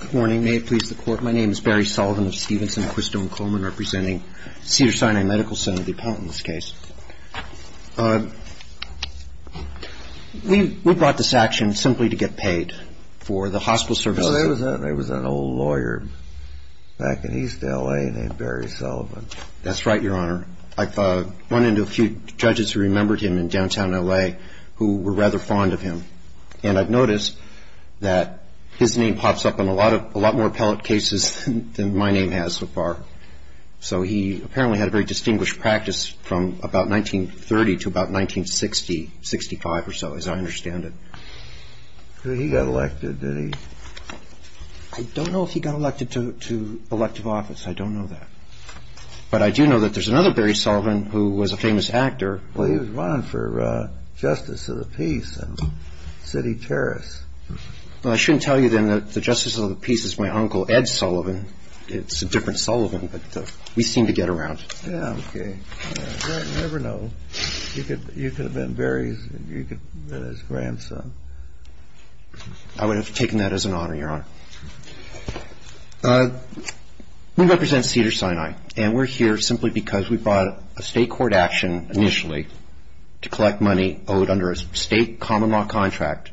Good morning. May it please the Court, my name is Barry Sullivan of Stevenson, Quisto, and Coleman, representing Cedars-Sinai Medical Center, the appellant in this case. We brought this action simply to get paid for the hospital services. There was an old lawyer back in East L.A. named Barry Sullivan. That's right, Your Honor. I've run into a few judges who remembered him in downtown L.A. who were rather fond of him. And I've noticed that his name pops up in a lot more appellate cases than my name has so far. So he apparently had a very distinguished practice from about 1930 to about 1960, 65 or so, as I understand it. So he got elected, did he? I don't know if he got elected to elective office. I don't know that. But I do know that there's another Barry Sullivan who was a famous actor. Well, he was running for Justice of the Peace in City Terrace. Well, I shouldn't tell you then that the Justice of the Peace is my uncle, Ed Sullivan. It's a different Sullivan, but we seem to get around. Yeah, okay. You never know. You could have been Barry's grandson. I would have taken that as an honor, Your Honor. We represent Cedars-Sinai, and we're here simply because we brought a state court action initially to collect money owed under a state common law contract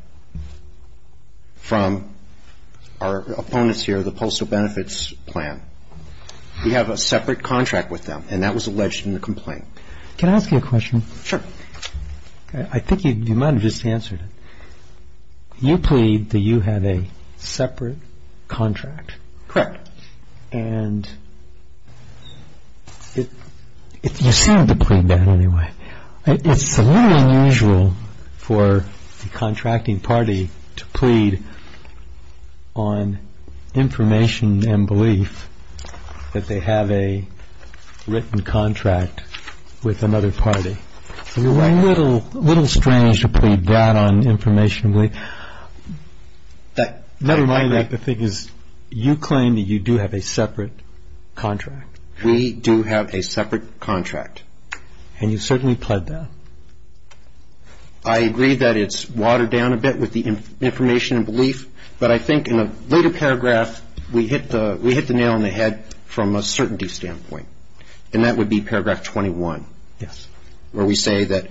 from our opponents here, the Postal Benefits Plan. We have a separate contract with them, and that was alleged in the complaint. Can I ask you a question? Sure. I think you might have just answered it. You plead that you have a separate contract. Correct. And you seem to plead that anyway. It's a little unusual for a contracting party to plead on information and belief that they have a written contract with another party. A little strange to plead that on information and belief. Never mind that the thing is you claim that you do have a separate contract. We do have a separate contract. And you certainly pled that. I agree that it's watered down a bit with the information and belief, but I think in a later paragraph we hit the nail on the head from a certainty standpoint, and that would be paragraph 21. Yes. Where we say that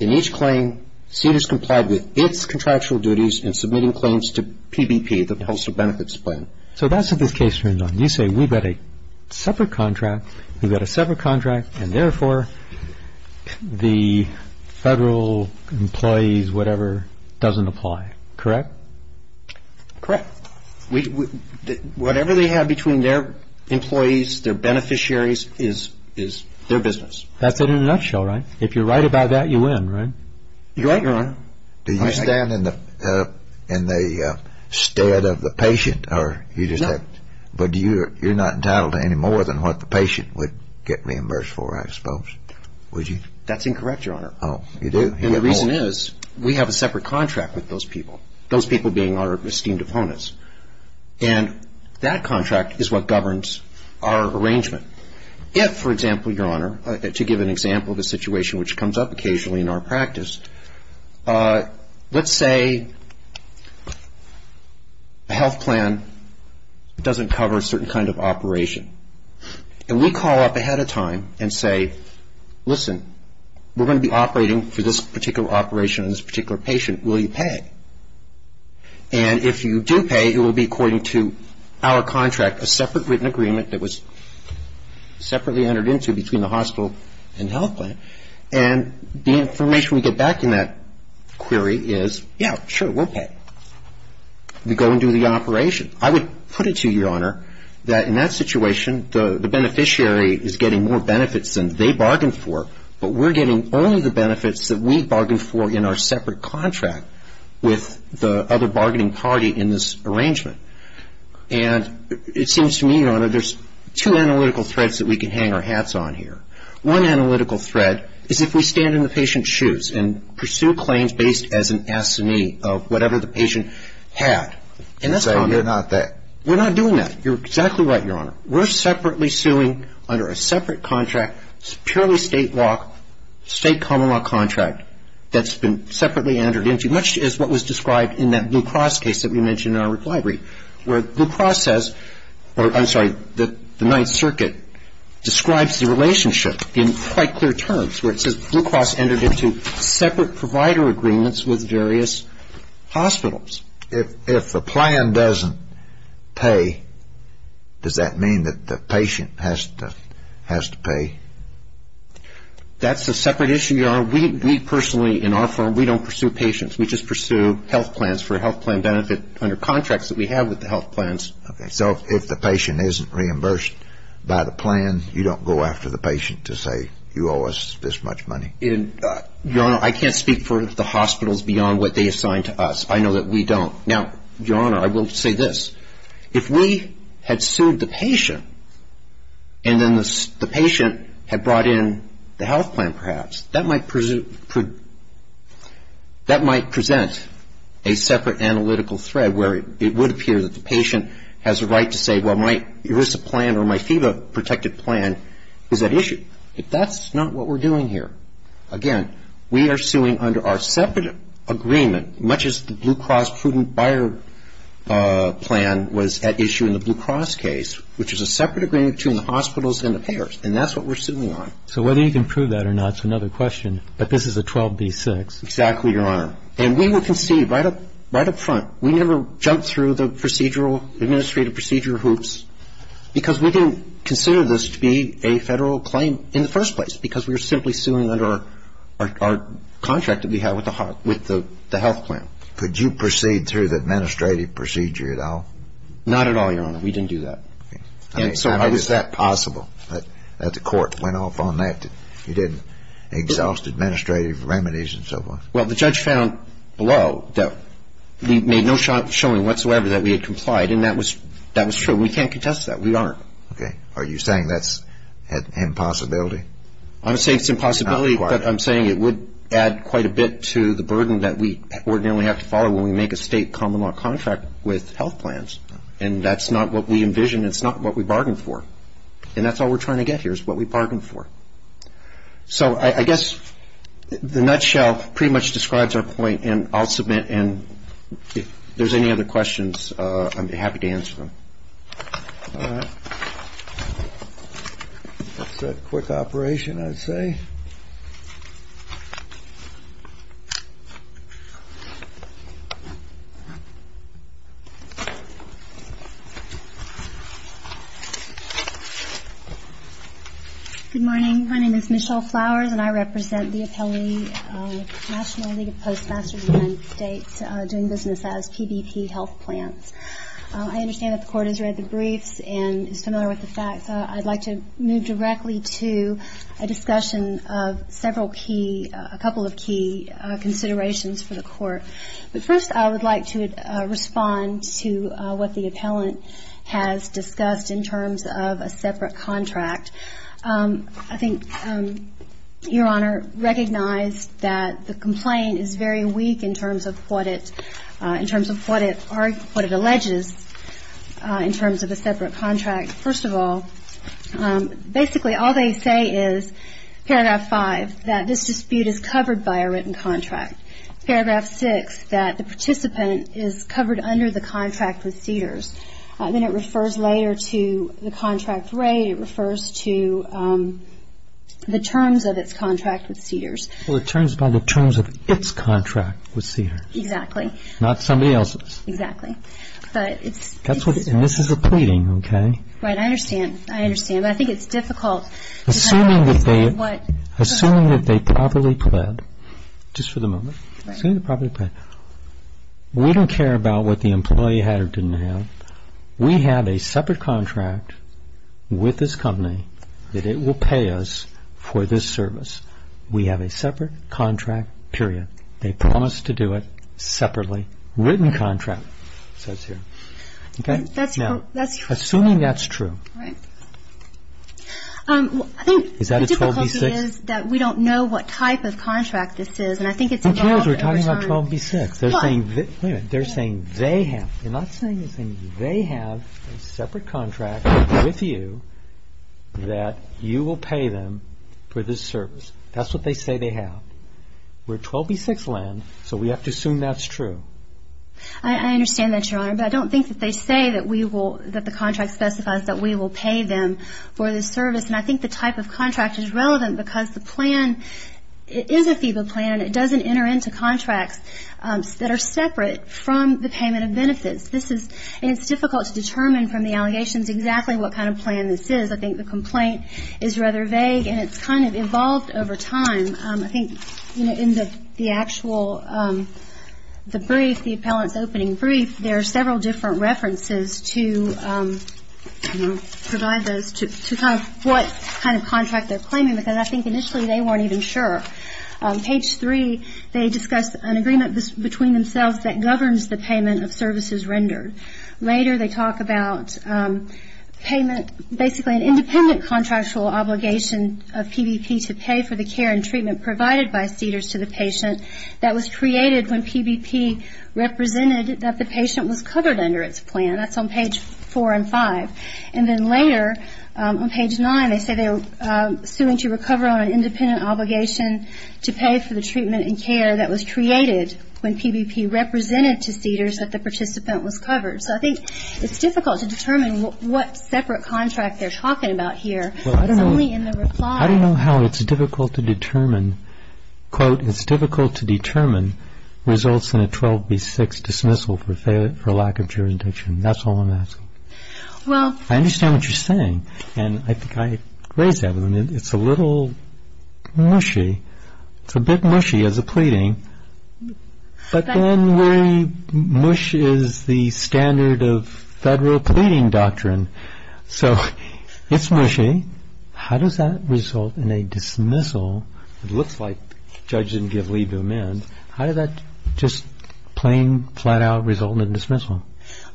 in each claim, CEDA is complied with its contractual duties in submitting claims to PBP, the Postal Benefits Plan. So that's what this case turns on. You say we've got a separate contract, we've got a separate contract, and therefore the federal employees, whatever, doesn't apply, correct? Correct. Whatever they have between their employees, their beneficiaries, is their business. That's it in a nutshell, right? If you're right about that, you win, right? You're right, Your Honor. Do you stand in the stead of the patient? No. But you're not entitled to any more than what the patient would get reimbursed for, I suppose, would you? That's incorrect, Your Honor. Oh, you do? And the reason is we have a separate contract with those people, those people being our esteemed opponents, and that contract is what governs our arrangement. If, for example, Your Honor, to give an example of a situation which comes up occasionally in our practice, let's say a health plan doesn't cover a certain kind of operation, and we call up ahead of time and say, listen, we're going to be operating for this particular operation on this particular patient. Will you pay? And if you do pay, it will be according to our contract, a separate written agreement that was separately entered into between the hospital and health plan. And the information we get back in that query is, yeah, sure, we'll pay. We go and do the operation. I would put it to you, Your Honor, that in that situation, the beneficiary is getting more benefits than they bargained for, but we're getting only the benefits that we bargained for in our separate contract with the other bargaining party in this arrangement. And it seems to me, Your Honor, there's two analytical threads that we can hang our hats on here. One analytical thread is if we stand in the patient's shoes and pursue claims based as an assignee of whatever the patient had. So you're not that? We're not doing that. You're exactly right, Your Honor. We're separately suing under a separate contract, purely state law, state common law contract that's been separately entered into, much as what was described in that Blue Cross case that we mentioned in our reply brief, where Blue Cross says, or I'm sorry, the Ninth Circuit describes the relationship in quite clear terms, where it says Blue Cross entered into separate provider agreements with various hospitals. If the plan doesn't pay, does that mean that the patient has to pay? That's a separate issue, Your Honor. We personally, in our firm, we don't pursue patients. We just pursue health plans for health plan benefit under contracts that we have with the health plans. Okay. So if the patient isn't reimbursed by the plan, you don't go after the patient to say, you owe us this much money? Your Honor, I can't speak for the hospitals beyond what they assign to us. I know that we don't. Now, Your Honor, I will say this. If we had sued the patient and then the patient had brought in the health plan perhaps, that might present a separate analytical thread where it would appear that the patient has a right to say, well, my ERISA plan or my FEBA protected plan is at issue. If that's not what we're doing here, again, we are suing under our separate agreement, much as the Blue Cross prudent buyer plan was at issue in the Blue Cross case, which is a separate agreement between the hospitals and the payers, and that's what we're suing on. So whether you can prove that or not is another question, but this is a 12B6. Exactly, Your Honor. And we will concede right up front. We never jump through the procedural, administrative procedure hoops, because we didn't consider this to be a federal claim in the first place, because we were simply suing under our contract that we have with the health plan. Could you proceed through the administrative procedure at all? Not at all, Your Honor. We didn't do that. And so how is that possible, that the court went off on that? You didn't exhaust administrative remedies and so forth? Well, the judge found below that we made no showing whatsoever that we had complied, and that was true. We can't contest that. We aren't. Okay. Are you saying that's an impossibility? I'm not saying it's an impossibility, but I'm saying it would add quite a bit to the burden that we ordinarily have to follow when we make a state common law contract with health plans, and that's not what we envision. It's not what we bargained for. And that's all we're trying to get here is what we bargained for. So I guess the nutshell pretty much describes our point, and I'll submit, and if there's any other questions, I'd be happy to answer them. All right. That's a quick operation, I'd say. Good morning. My name is Michelle Flowers, and I represent the appellee National League of Postmasters United States doing business as PBP Health Plans. I understand that the court has read the briefs and is familiar with the facts. I'd like to move directly to a discussion of several key, a couple of key considerations for the court. But first I would like to respond to what the appellant has discussed in terms of a separate contract. I think, Your Honor, recognize that the complaint is very weak in terms of what it, in terms of what it alleges in terms of a separate contract. First of all, basically all they say is, paragraph 5, that this dispute is covered by a written contract. Paragraph 6, that the participant is covered under the contract with CEDARS. Then it refers later to the contract rate. It refers to the terms of its contract with CEDARS. Well, it turns by the terms of its contract with CEDARS. Exactly. Not somebody else's. Exactly. And this is a pleading, okay? Right, I understand. I understand, but I think it's difficult. Assuming that they properly pled, just for the moment, assuming they properly pled, we don't care about what the employee had or didn't have. We have a separate contract with this company that it will pay us for this service. We have a separate contract, period. They promised to do it separately. Written contract, it says here, okay? That's true. Assuming that's true. Right. I think the difficulty is that we don't know what type of contract this is, and I think it's involved over time. Who cares? We're talking about 12B6. Wait a minute. They're saying they have. They're not saying they have a separate contract with you that you will pay them for this service. That's what they say they have. We're 12B6 land, so we have to assume that's true. I understand that, Your Honor, but I don't think that they say that the contract specifies that we will pay them for this service, and I think the type of contract is relevant because the plan is a FEBA plan. It doesn't enter into contracts that are separate from the payment of benefits. And it's difficult to determine from the allegations exactly what kind of plan this is. I think the complaint is rather vague, and it's kind of evolved over time. I think in the actual, the brief, the appellant's opening brief, there are several different references to provide those to kind of what kind of contract they're claiming, because I think initially they weren't even sure. Page 3, they discuss an agreement between themselves that governs the payment of services rendered. Later they talk about payment, basically an independent contractual obligation of PBP to pay for the care and treatment provided by CEDARS to the patient that was created when PBP represented that the patient was covered under its plan. That's on page 4 and 5. And then later, on page 9, they say they are suing to recover on an independent obligation to pay for the treatment and care that was created when PBP represented to CEDARS that the participant was covered. So I think it's difficult to determine what separate contract they're talking about here. It's only in the reply. I don't know how it's difficult to determine, quote, it's difficult to determine results in a 12B6 dismissal for lack of jurisdiction. That's all I'm asking. I understand what you're saying, and I think I raised that. It's a little mushy. It's a bit mushy as a pleading, but then we, mush is the standard of federal pleading doctrine, so it's mushy. How does that result in a dismissal? It looks like judges didn't give leave to amend. How did that just plain, flat-out result in a dismissal?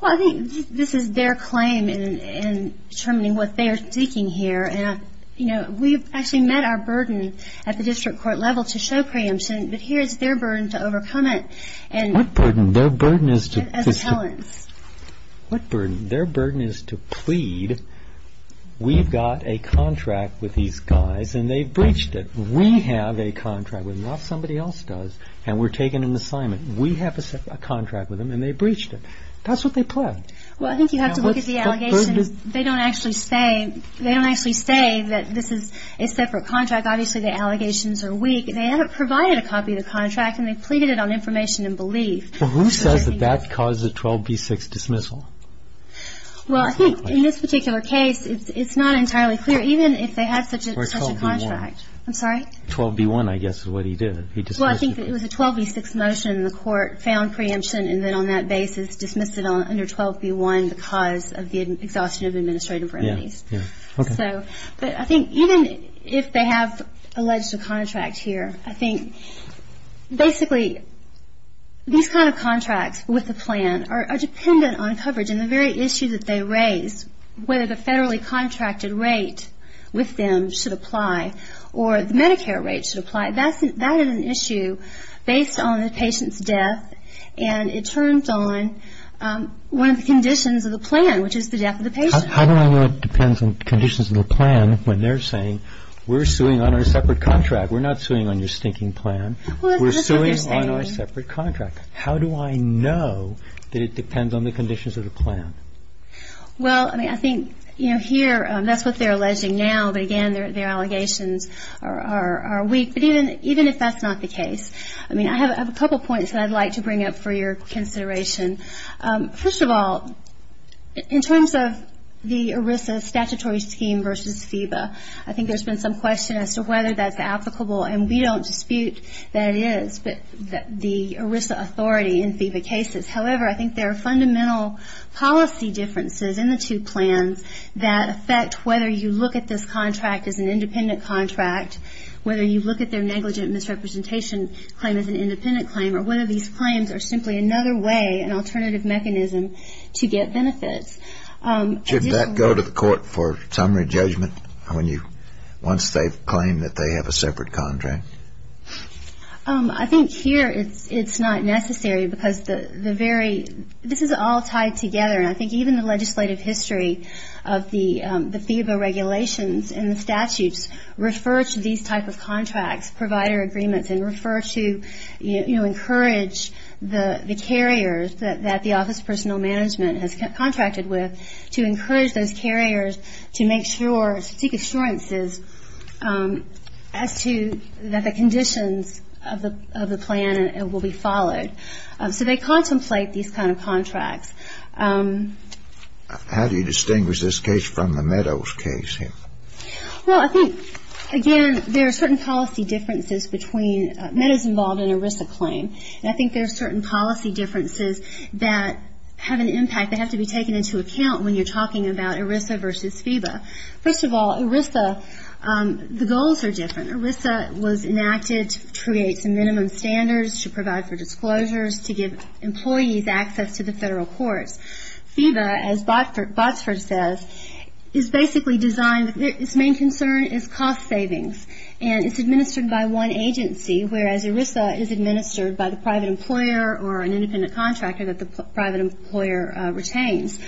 Well, I think this is their claim in determining what they are seeking here, and we've actually met our burden at the district court level to show preemption, but here is their burden to overcome it. What burden? Their burden is to plead. We've got a contract with these guys, and they breached it. We have a contract with them, not somebody else does, and we're taking an assignment. We have a contract with them, and they breached it. That's what they plead. Well, I think you have to look at the allegations. They don't actually say that this is a separate contract. Obviously, the allegations are weak. They haven't provided a copy of the contract, and they've pleaded it on information and belief. Well, who says that that causes a 12B6 dismissal? Well, I think in this particular case, it's not entirely clear, even if they had such a contract. 12B1. I'm sorry? 12B1, I guess, is what he did. He dismissed it. Well, I think it was a 12B6 motion, and the court found preemption, and then on that basis dismissed it under 12B1 because of the exhaustion of administrative remedies. Yeah, yeah. Okay. But I think even if they have alleged a contract here, I think basically these kind of contracts with a plan are dependent on coverage, and the very issue that they raise, whether the federally contracted rate with them should apply or the Medicare rate should apply, that is an issue based on the patient's death, and it turns on one of the conditions of the plan, which is the death of the patient. How do I know it depends on conditions of the plan when they're saying, we're suing on our separate contract, we're not suing on your stinking plan, we're suing on our separate contract? How do I know that it depends on the conditions of the plan? Well, I mean, I think, you know, here, that's what they're alleging now, but again, their allegations are weak. But even if that's not the case, I mean, I have a couple of points that I'd like to bring up for your consideration. First of all, in terms of the ERISA statutory scheme versus FEBA, I think there's been some question as to whether that's applicable, and we don't dispute that it is, but the ERISA authority in FEBA cases. However, I think there are fundamental policy differences in the two plans that affect whether you look at this contract as an independent contract, whether you look at their negligent misrepresentation claim as an independent claim, or whether these claims are simply another way, an alternative mechanism to get benefits. Should that go to the court for summary judgment once they claim that they have a separate contract? I think here it's not necessary because the very – this is all tied together, and I think even the legislative history of the FEBA regulations and the statutes refer to these type of contracts, provider agreements, and refer to, you know, encourage the carriers that the office of personal management has contracted with to encourage those carriers to make sure, to seek assurances as to – that the conditions of the plan will be followed. So they contemplate these kind of contracts. How do you distinguish this case from the Meadows case here? Well, I think, again, there are certain policy differences between Meadows-involved and ERISA claim, and I think there are certain policy differences that have an impact that have to be taken into account when you're talking about ERISA versus FEBA. First of all, ERISA – the goals are different. ERISA was enacted to create some minimum standards, to provide for disclosures, to give employees access to the federal courts. FEBA, as Botsford says, is basically designed – its main concern is cost savings, and it's administered by one agency, whereas ERISA is administered by the private employer or an independent contractor that the private employer retains.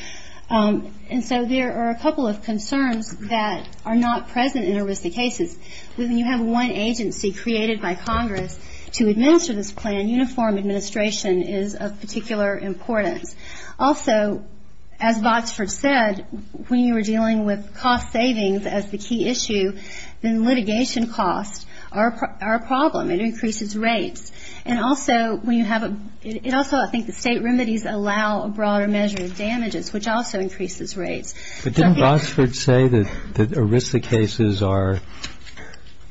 And so there are a couple of concerns that are not present in ERISA cases. When you have one agency created by Congress to administer this plan, uniform administration is of particular importance. Also, as Botsford said, when you are dealing with cost savings as the key issue, then litigation costs are a problem. It increases rates. And also, when you have a – it also – I think the state remedies allow a broader measure of damages, which also increases rates. But didn't Botsford say that ERISA cases are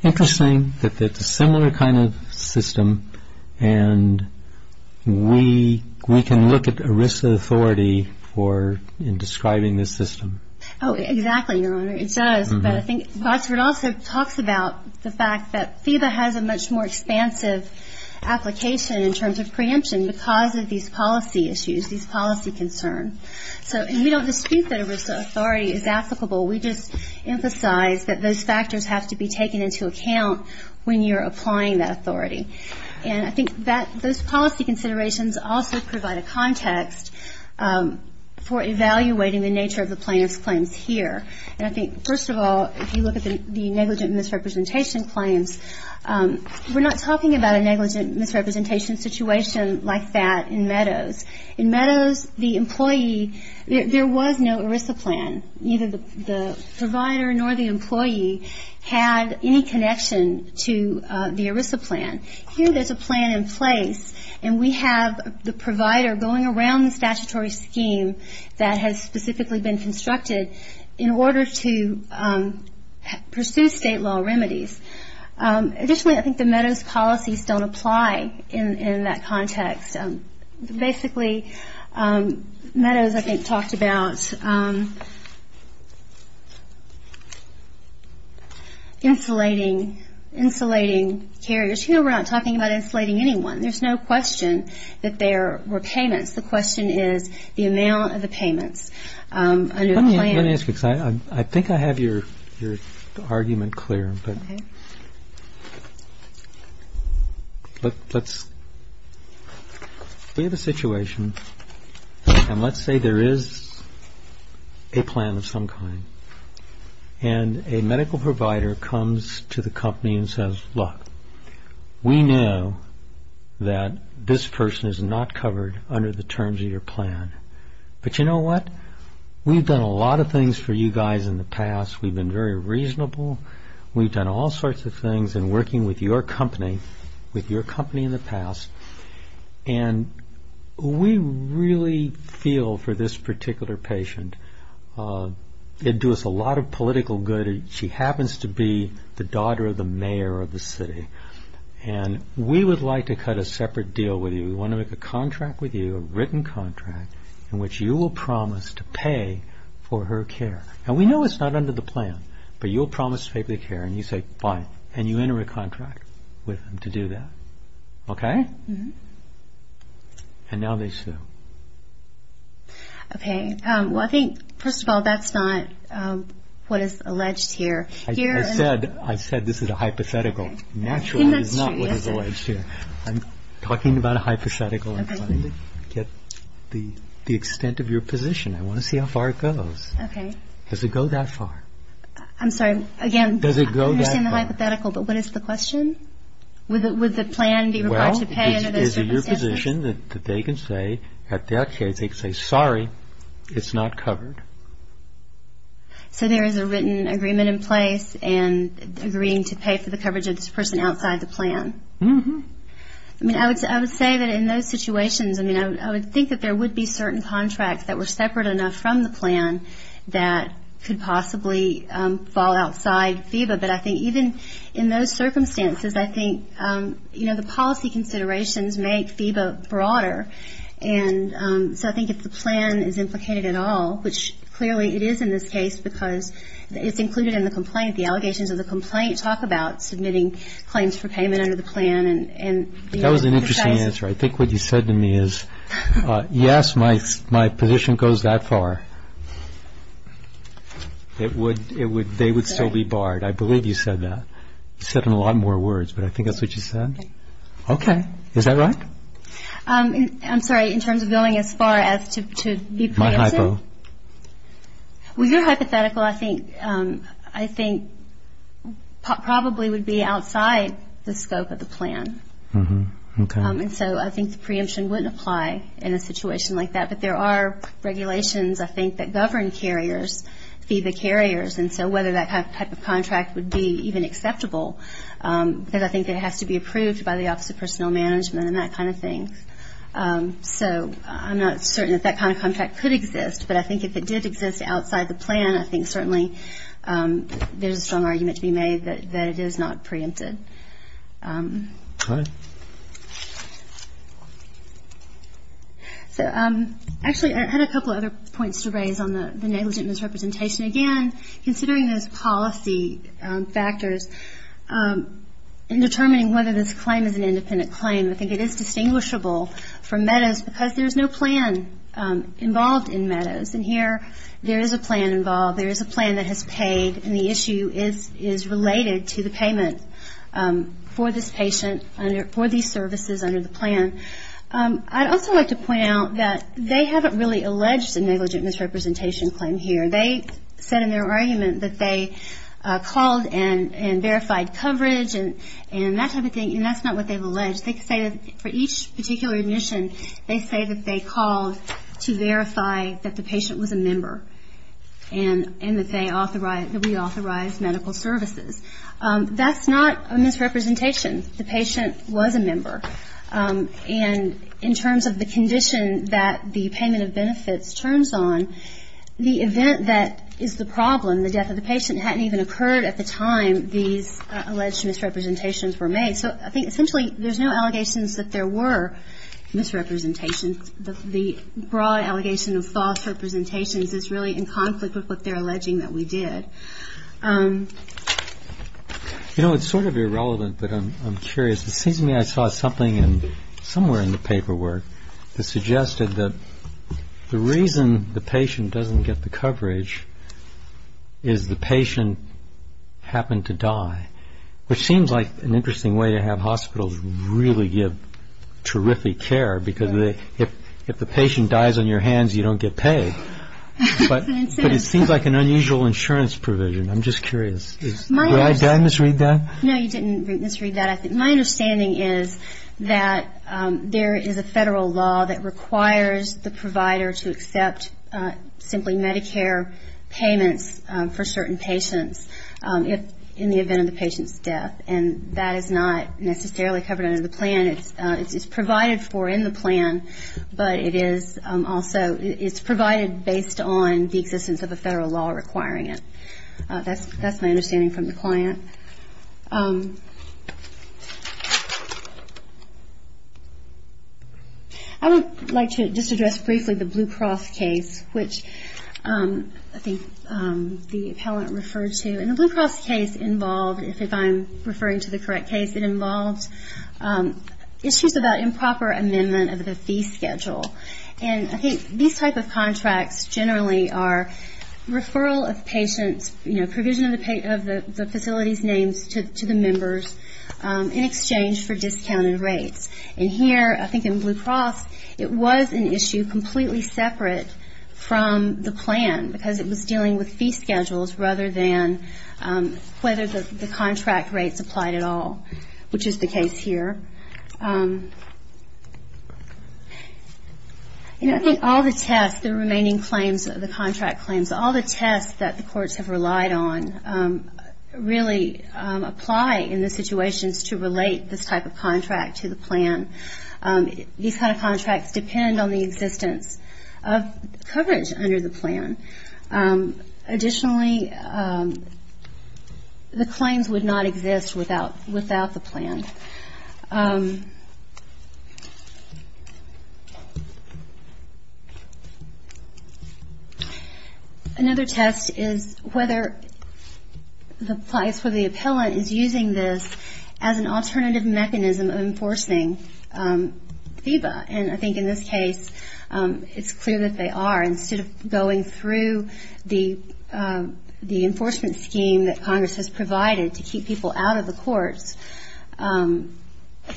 interesting, that it's a similar kind of system, and we can look at ERISA authority for – in describing this system? Oh, exactly, Your Honor. It does, but I think Botsford also talks about the fact that FEBA has a much more expansive application in terms of preemption because of these policy issues, these policy concerns. So – and we don't dispute that ERISA authority is applicable. We just emphasize that those factors have to be taken into account when you're applying that authority. And I think that those policy considerations also provide a context for evaluating the nature of the plaintiff's claims here. And I think, first of all, if you look at the negligent misrepresentation claims, we're not talking about a negligent misrepresentation situation like that in Meadows. In Meadows, the employee – there was no ERISA plan. Neither the provider nor the employee had any connection to the ERISA plan. Here there's a plan in place, and we have the provider going around the statutory scheme that has specifically been constructed in order to pursue state law remedies. Additionally, I think the Meadows policies don't apply in that context. Basically, Meadows, I think, talked about insulating carriers. Here we're not talking about insulating anyone. There's no question that there were payments. The question is the amount of the payments under the plan. I think I have your argument clear. We have a situation, and let's say there is a plan of some kind. And a medical provider comes to the company and says, look, we know that this person is not covered under the terms of your plan. But you know what? We've done a lot of things for you guys in the past. We've been very reasonable. We've done all sorts of things in working with your company, with your company in the past. And we really feel for this particular patient. It would do us a lot of political good. She happens to be the daughter of the mayor of the city. And we would like to cut a separate deal with you. We want to make a contract with you, a written contract, in which you will promise to pay for her care. And we know it's not under the plan, but you'll promise to pay for the care. And you say, fine. And you enter a contract with them to do that. Okay? And now they sue. Okay. Well, I think, first of all, that's not what is alleged here. I said this is a hypothetical. Naturally, it's not what is alleged here. I'm talking about a hypothetical. I'm trying to get the extent of your position. I want to see how far it goes. Okay. Does it go that far? I'm sorry. Again, I understand the hypothetical, but what is the question? Would the plan be required to pay under those circumstances? Well, is it your position that they can say, at their case, they can say, sorry, it's not covered? So there is a written agreement in place and agreeing to pay for the coverage of this person outside the plan. Mm-hmm. I mean, I would say that in those situations, I mean, I would think that there would be certain contracts that were separate enough from the plan that could possibly fall outside FEBA, but I think even in those circumstances, I think, you know, the policy considerations make FEBA broader. And so I think if the plan is implicated at all, which clearly it is in this case because it's included in the complaint, the allegations of the complaint talk about submitting claims for payment under the plan. That was an interesting answer. I think what you said to me is, yes, my position goes that far. They would still be barred. I believe you said that. You said it in a lot more words, but I think that's what you said. Okay. Is that right? I'm sorry. In terms of going as far as to be preemptive? My hypo. Well, your hypothetical, I think, probably would be outside the scope of the plan. Mm-hmm. Okay. And so I think the preemption wouldn't apply in a situation like that. But there are regulations, I think, that govern carriers, FEBA carriers, and so whether that type of contract would be even acceptable, because I think it has to be approved by the Office of Personnel Management and that kind of thing. So I'm not certain that that kind of contract could exist. But I think if it did exist outside the plan, I think certainly there's a strong argument to be made that it is not preempted. Okay. Actually, I had a couple of other points to raise on the negligent misrepresentation. Again, considering those policy factors in determining whether this claim is an independent claim, I think it is distinguishable from MEDOS because there's no plan involved in MEDOS. And here there is a plan involved. There is a plan that has paid, and the issue is related to the payment for this patient for these services under the plan. I'd also like to point out that they haven't really alleged a negligent misrepresentation claim here. They said in their argument that they called and verified coverage and that type of thing, and that's not what they've alleged. They say that for each particular admission, they say that they called to verify that the patient was a member and that we authorized medical services. That's not a misrepresentation. The patient was a member. And in terms of the condition that the payment of benefits turns on, the event that is the problem, the death of the patient, hadn't even occurred at the time these alleged misrepresentations were made. So I think essentially there's no allegations that there were misrepresentations. The broad allegation of false representations is really in conflict with what they're alleging that we did. You know, it's sort of irrelevant, but I'm curious. It seems to me I saw something somewhere in the paperwork that suggested that the reason the patient doesn't get the coverage is the patient happened to die, which seems like an interesting way to have hospitals really give terrific care because if the patient dies on your hands, you don't get paid. But it seems like an unusual insurance provision. I'm just curious. Did I misread that? No, you didn't misread that. I think my understanding is that there is a federal law that requires the provider to accept simply Medicare payments for certain patients in the event of the patient's death. And that is not necessarily covered under the plan. It's provided for in the plan, but it is also, it's provided based on the existence of a federal law requiring it. That's my understanding from the client. I would like to just address briefly the Blue Cross case, which I think the appellant referred to. And the Blue Cross case involved, if I'm referring to the correct case, it involved issues about improper amendment of the fee schedule. And I think these type of contracts generally are referral of patients, you know, provision of the facility's names to the members in exchange for discounted rates. And here, I think in Blue Cross, it was an issue completely separate from the plan because it was dealing with fee schedules rather than whether the contract rates applied at all, which is the case here. And I think all the tests, the remaining claims, the contract claims, all the tests that the courts have relied on really apply in the situations to relate this type of contract to the plan. These kind of contracts depend on the existence of coverage under the plan. Additionally, the claims would not exist without the plan. Another test is whether the place where the appellant is using this as an alternative mechanism of enforcing FEBA. And I think in this case, it's clear that they are. Instead of going through the enforcement scheme that Congress has provided to keep people out of the courts,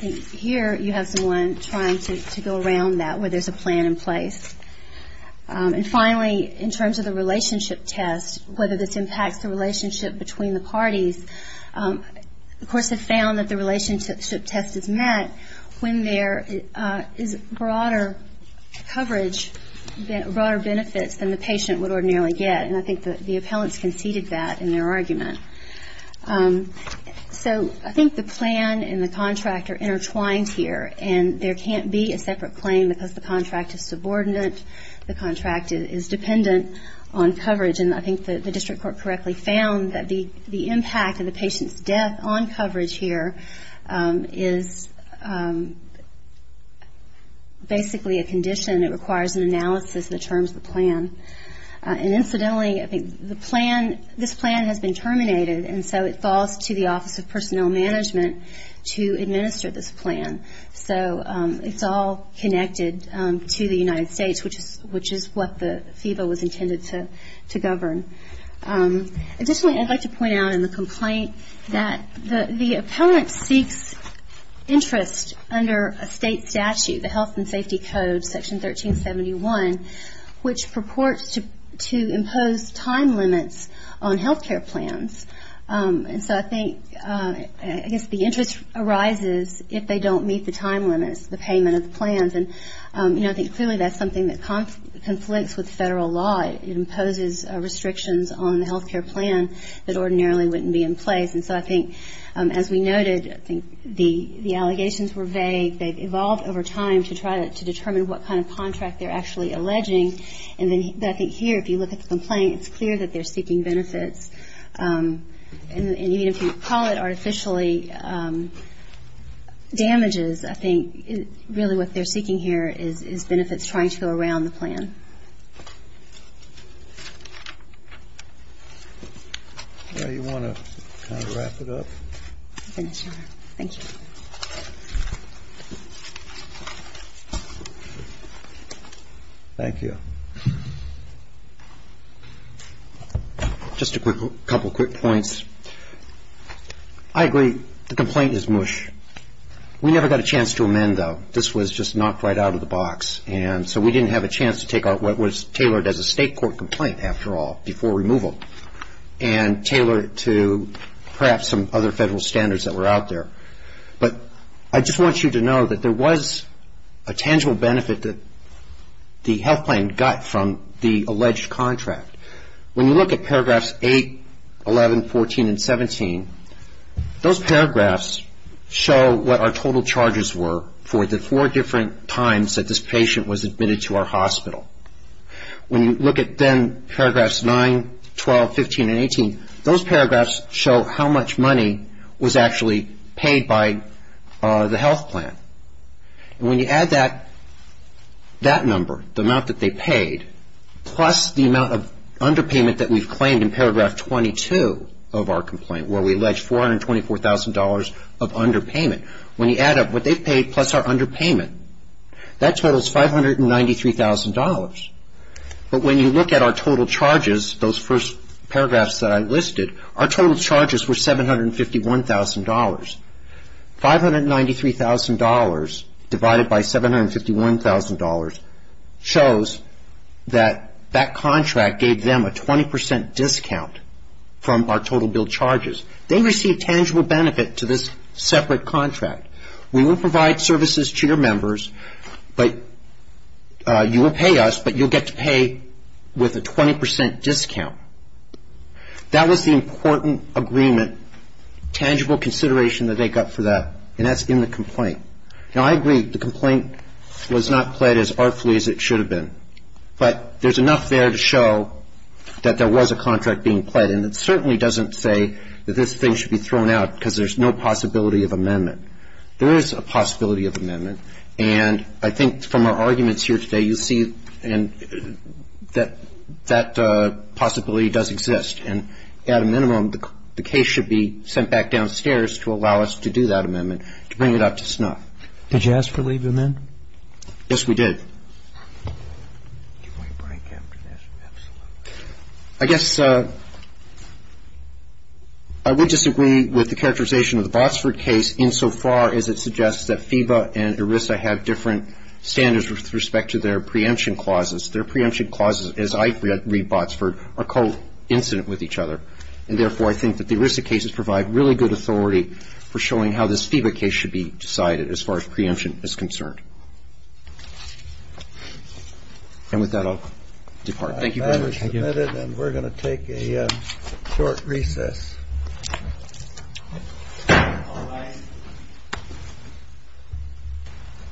here you have someone trying to go around that where there's a plan in place. And finally, in terms of the relationship test, whether this impacts the relationship between the parties, the courts have found that the relationship test is met when there is broader coverage, broader benefits than the patient would ordinarily get. And I think the appellants conceded that in their argument. So I think the plan and the contract are intertwined here, and there can't be a separate claim because the contract is subordinate, the contract is dependent on coverage. And I think the district court correctly found that the impact of the patient's death on coverage here is basically a condition that requires an analysis in the terms of the plan. And incidentally, I think the plan, this plan has been terminated, and so it falls to the Office of Personnel Management to administer this plan. So it's all connected to the United States, which is what the FEBA was intended to govern. Additionally, I'd like to point out in the complaint that the appellant seeks interest under a state statute, the Health and Safety Code, Section 1371, which purports to impose time limits on health care plans. And so I think, I guess the interest arises if they don't meet the time limits, the payment of the plans. And, you know, I think clearly that's something that conflicts with Federal law. It imposes restrictions on the health care plan that ordinarily wouldn't be in place. And so I think, as we noted, I think the allegations were vague. They've evolved over time to try to determine what kind of contract they're actually alleging. And I think here, if you look at the complaint, it's clear that they're seeking benefits. And even if you call it artificially damages, I think really what they're seeking here is benefits trying to go around the plan. Do you want to kind of wrap it up? Thank you. Just a couple quick points. I agree the complaint is mush. We never got a chance to amend, though. This was just knocked right out of the box. And so we didn't have a chance to take out what was tailored as a state court complaint, after all, before removal, and tailor it to perhaps some other Federal standards that were out there. But I just want you to know that there was a tangible benefit that the health plan got from the alleged contract. When you look at paragraphs 8, 11, 14, and 17, those paragraphs show what our total charges were for the four different times that this patient was admitted to our hospital. When you look at then paragraphs 9, 12, 15, and 18, those paragraphs show how much money was actually paid by the health plan. And when you add that number, the amount that they paid, plus the amount of underpayment that we've claimed in paragraph 22 of our complaint, where we allege $424,000 of underpayment, when you add up what they paid plus our underpayment, that totals $593,000. But when you look at our total charges, those first paragraphs that I listed, our total charges were $751,000. $593,000 divided by $751,000 shows that that contract gave them a 20% discount from our total bill charges. They received tangible benefit to this separate contract. We will provide services to your members, but you will pay us, but you'll get to pay with a 20% discount. That was the important agreement, tangible consideration that they got for that, and that's in the complaint. Now, I agree the complaint was not pled as artfully as it should have been, but there's enough there to show that there was a contract being pled, and it certainly doesn't say that this thing should be thrown out because there's no possibility of amendment. There is a possibility of amendment, and I think from our arguments here today, you see that that possibility does exist. And at a minimum, the case should be sent back downstairs to allow us to do that amendment, to bring it up to snuff. Did you ask for leave of amendment? Yes, we did. Can we break after this? Absolutely. I guess I would disagree with the characterization of the Botsford case, insofar as it suggests that FEBA and ERISA have different standards with respect to their preemption clauses. Their preemption clauses, as I read Botsford, are co-incident with each other, and therefore I think that the ERISA cases provide really good authority for showing how this FEBA case should be decided as far as preemption is concerned. And with that, I'll depart. Thank you very much. That is submitted, and we're going to take a short recess.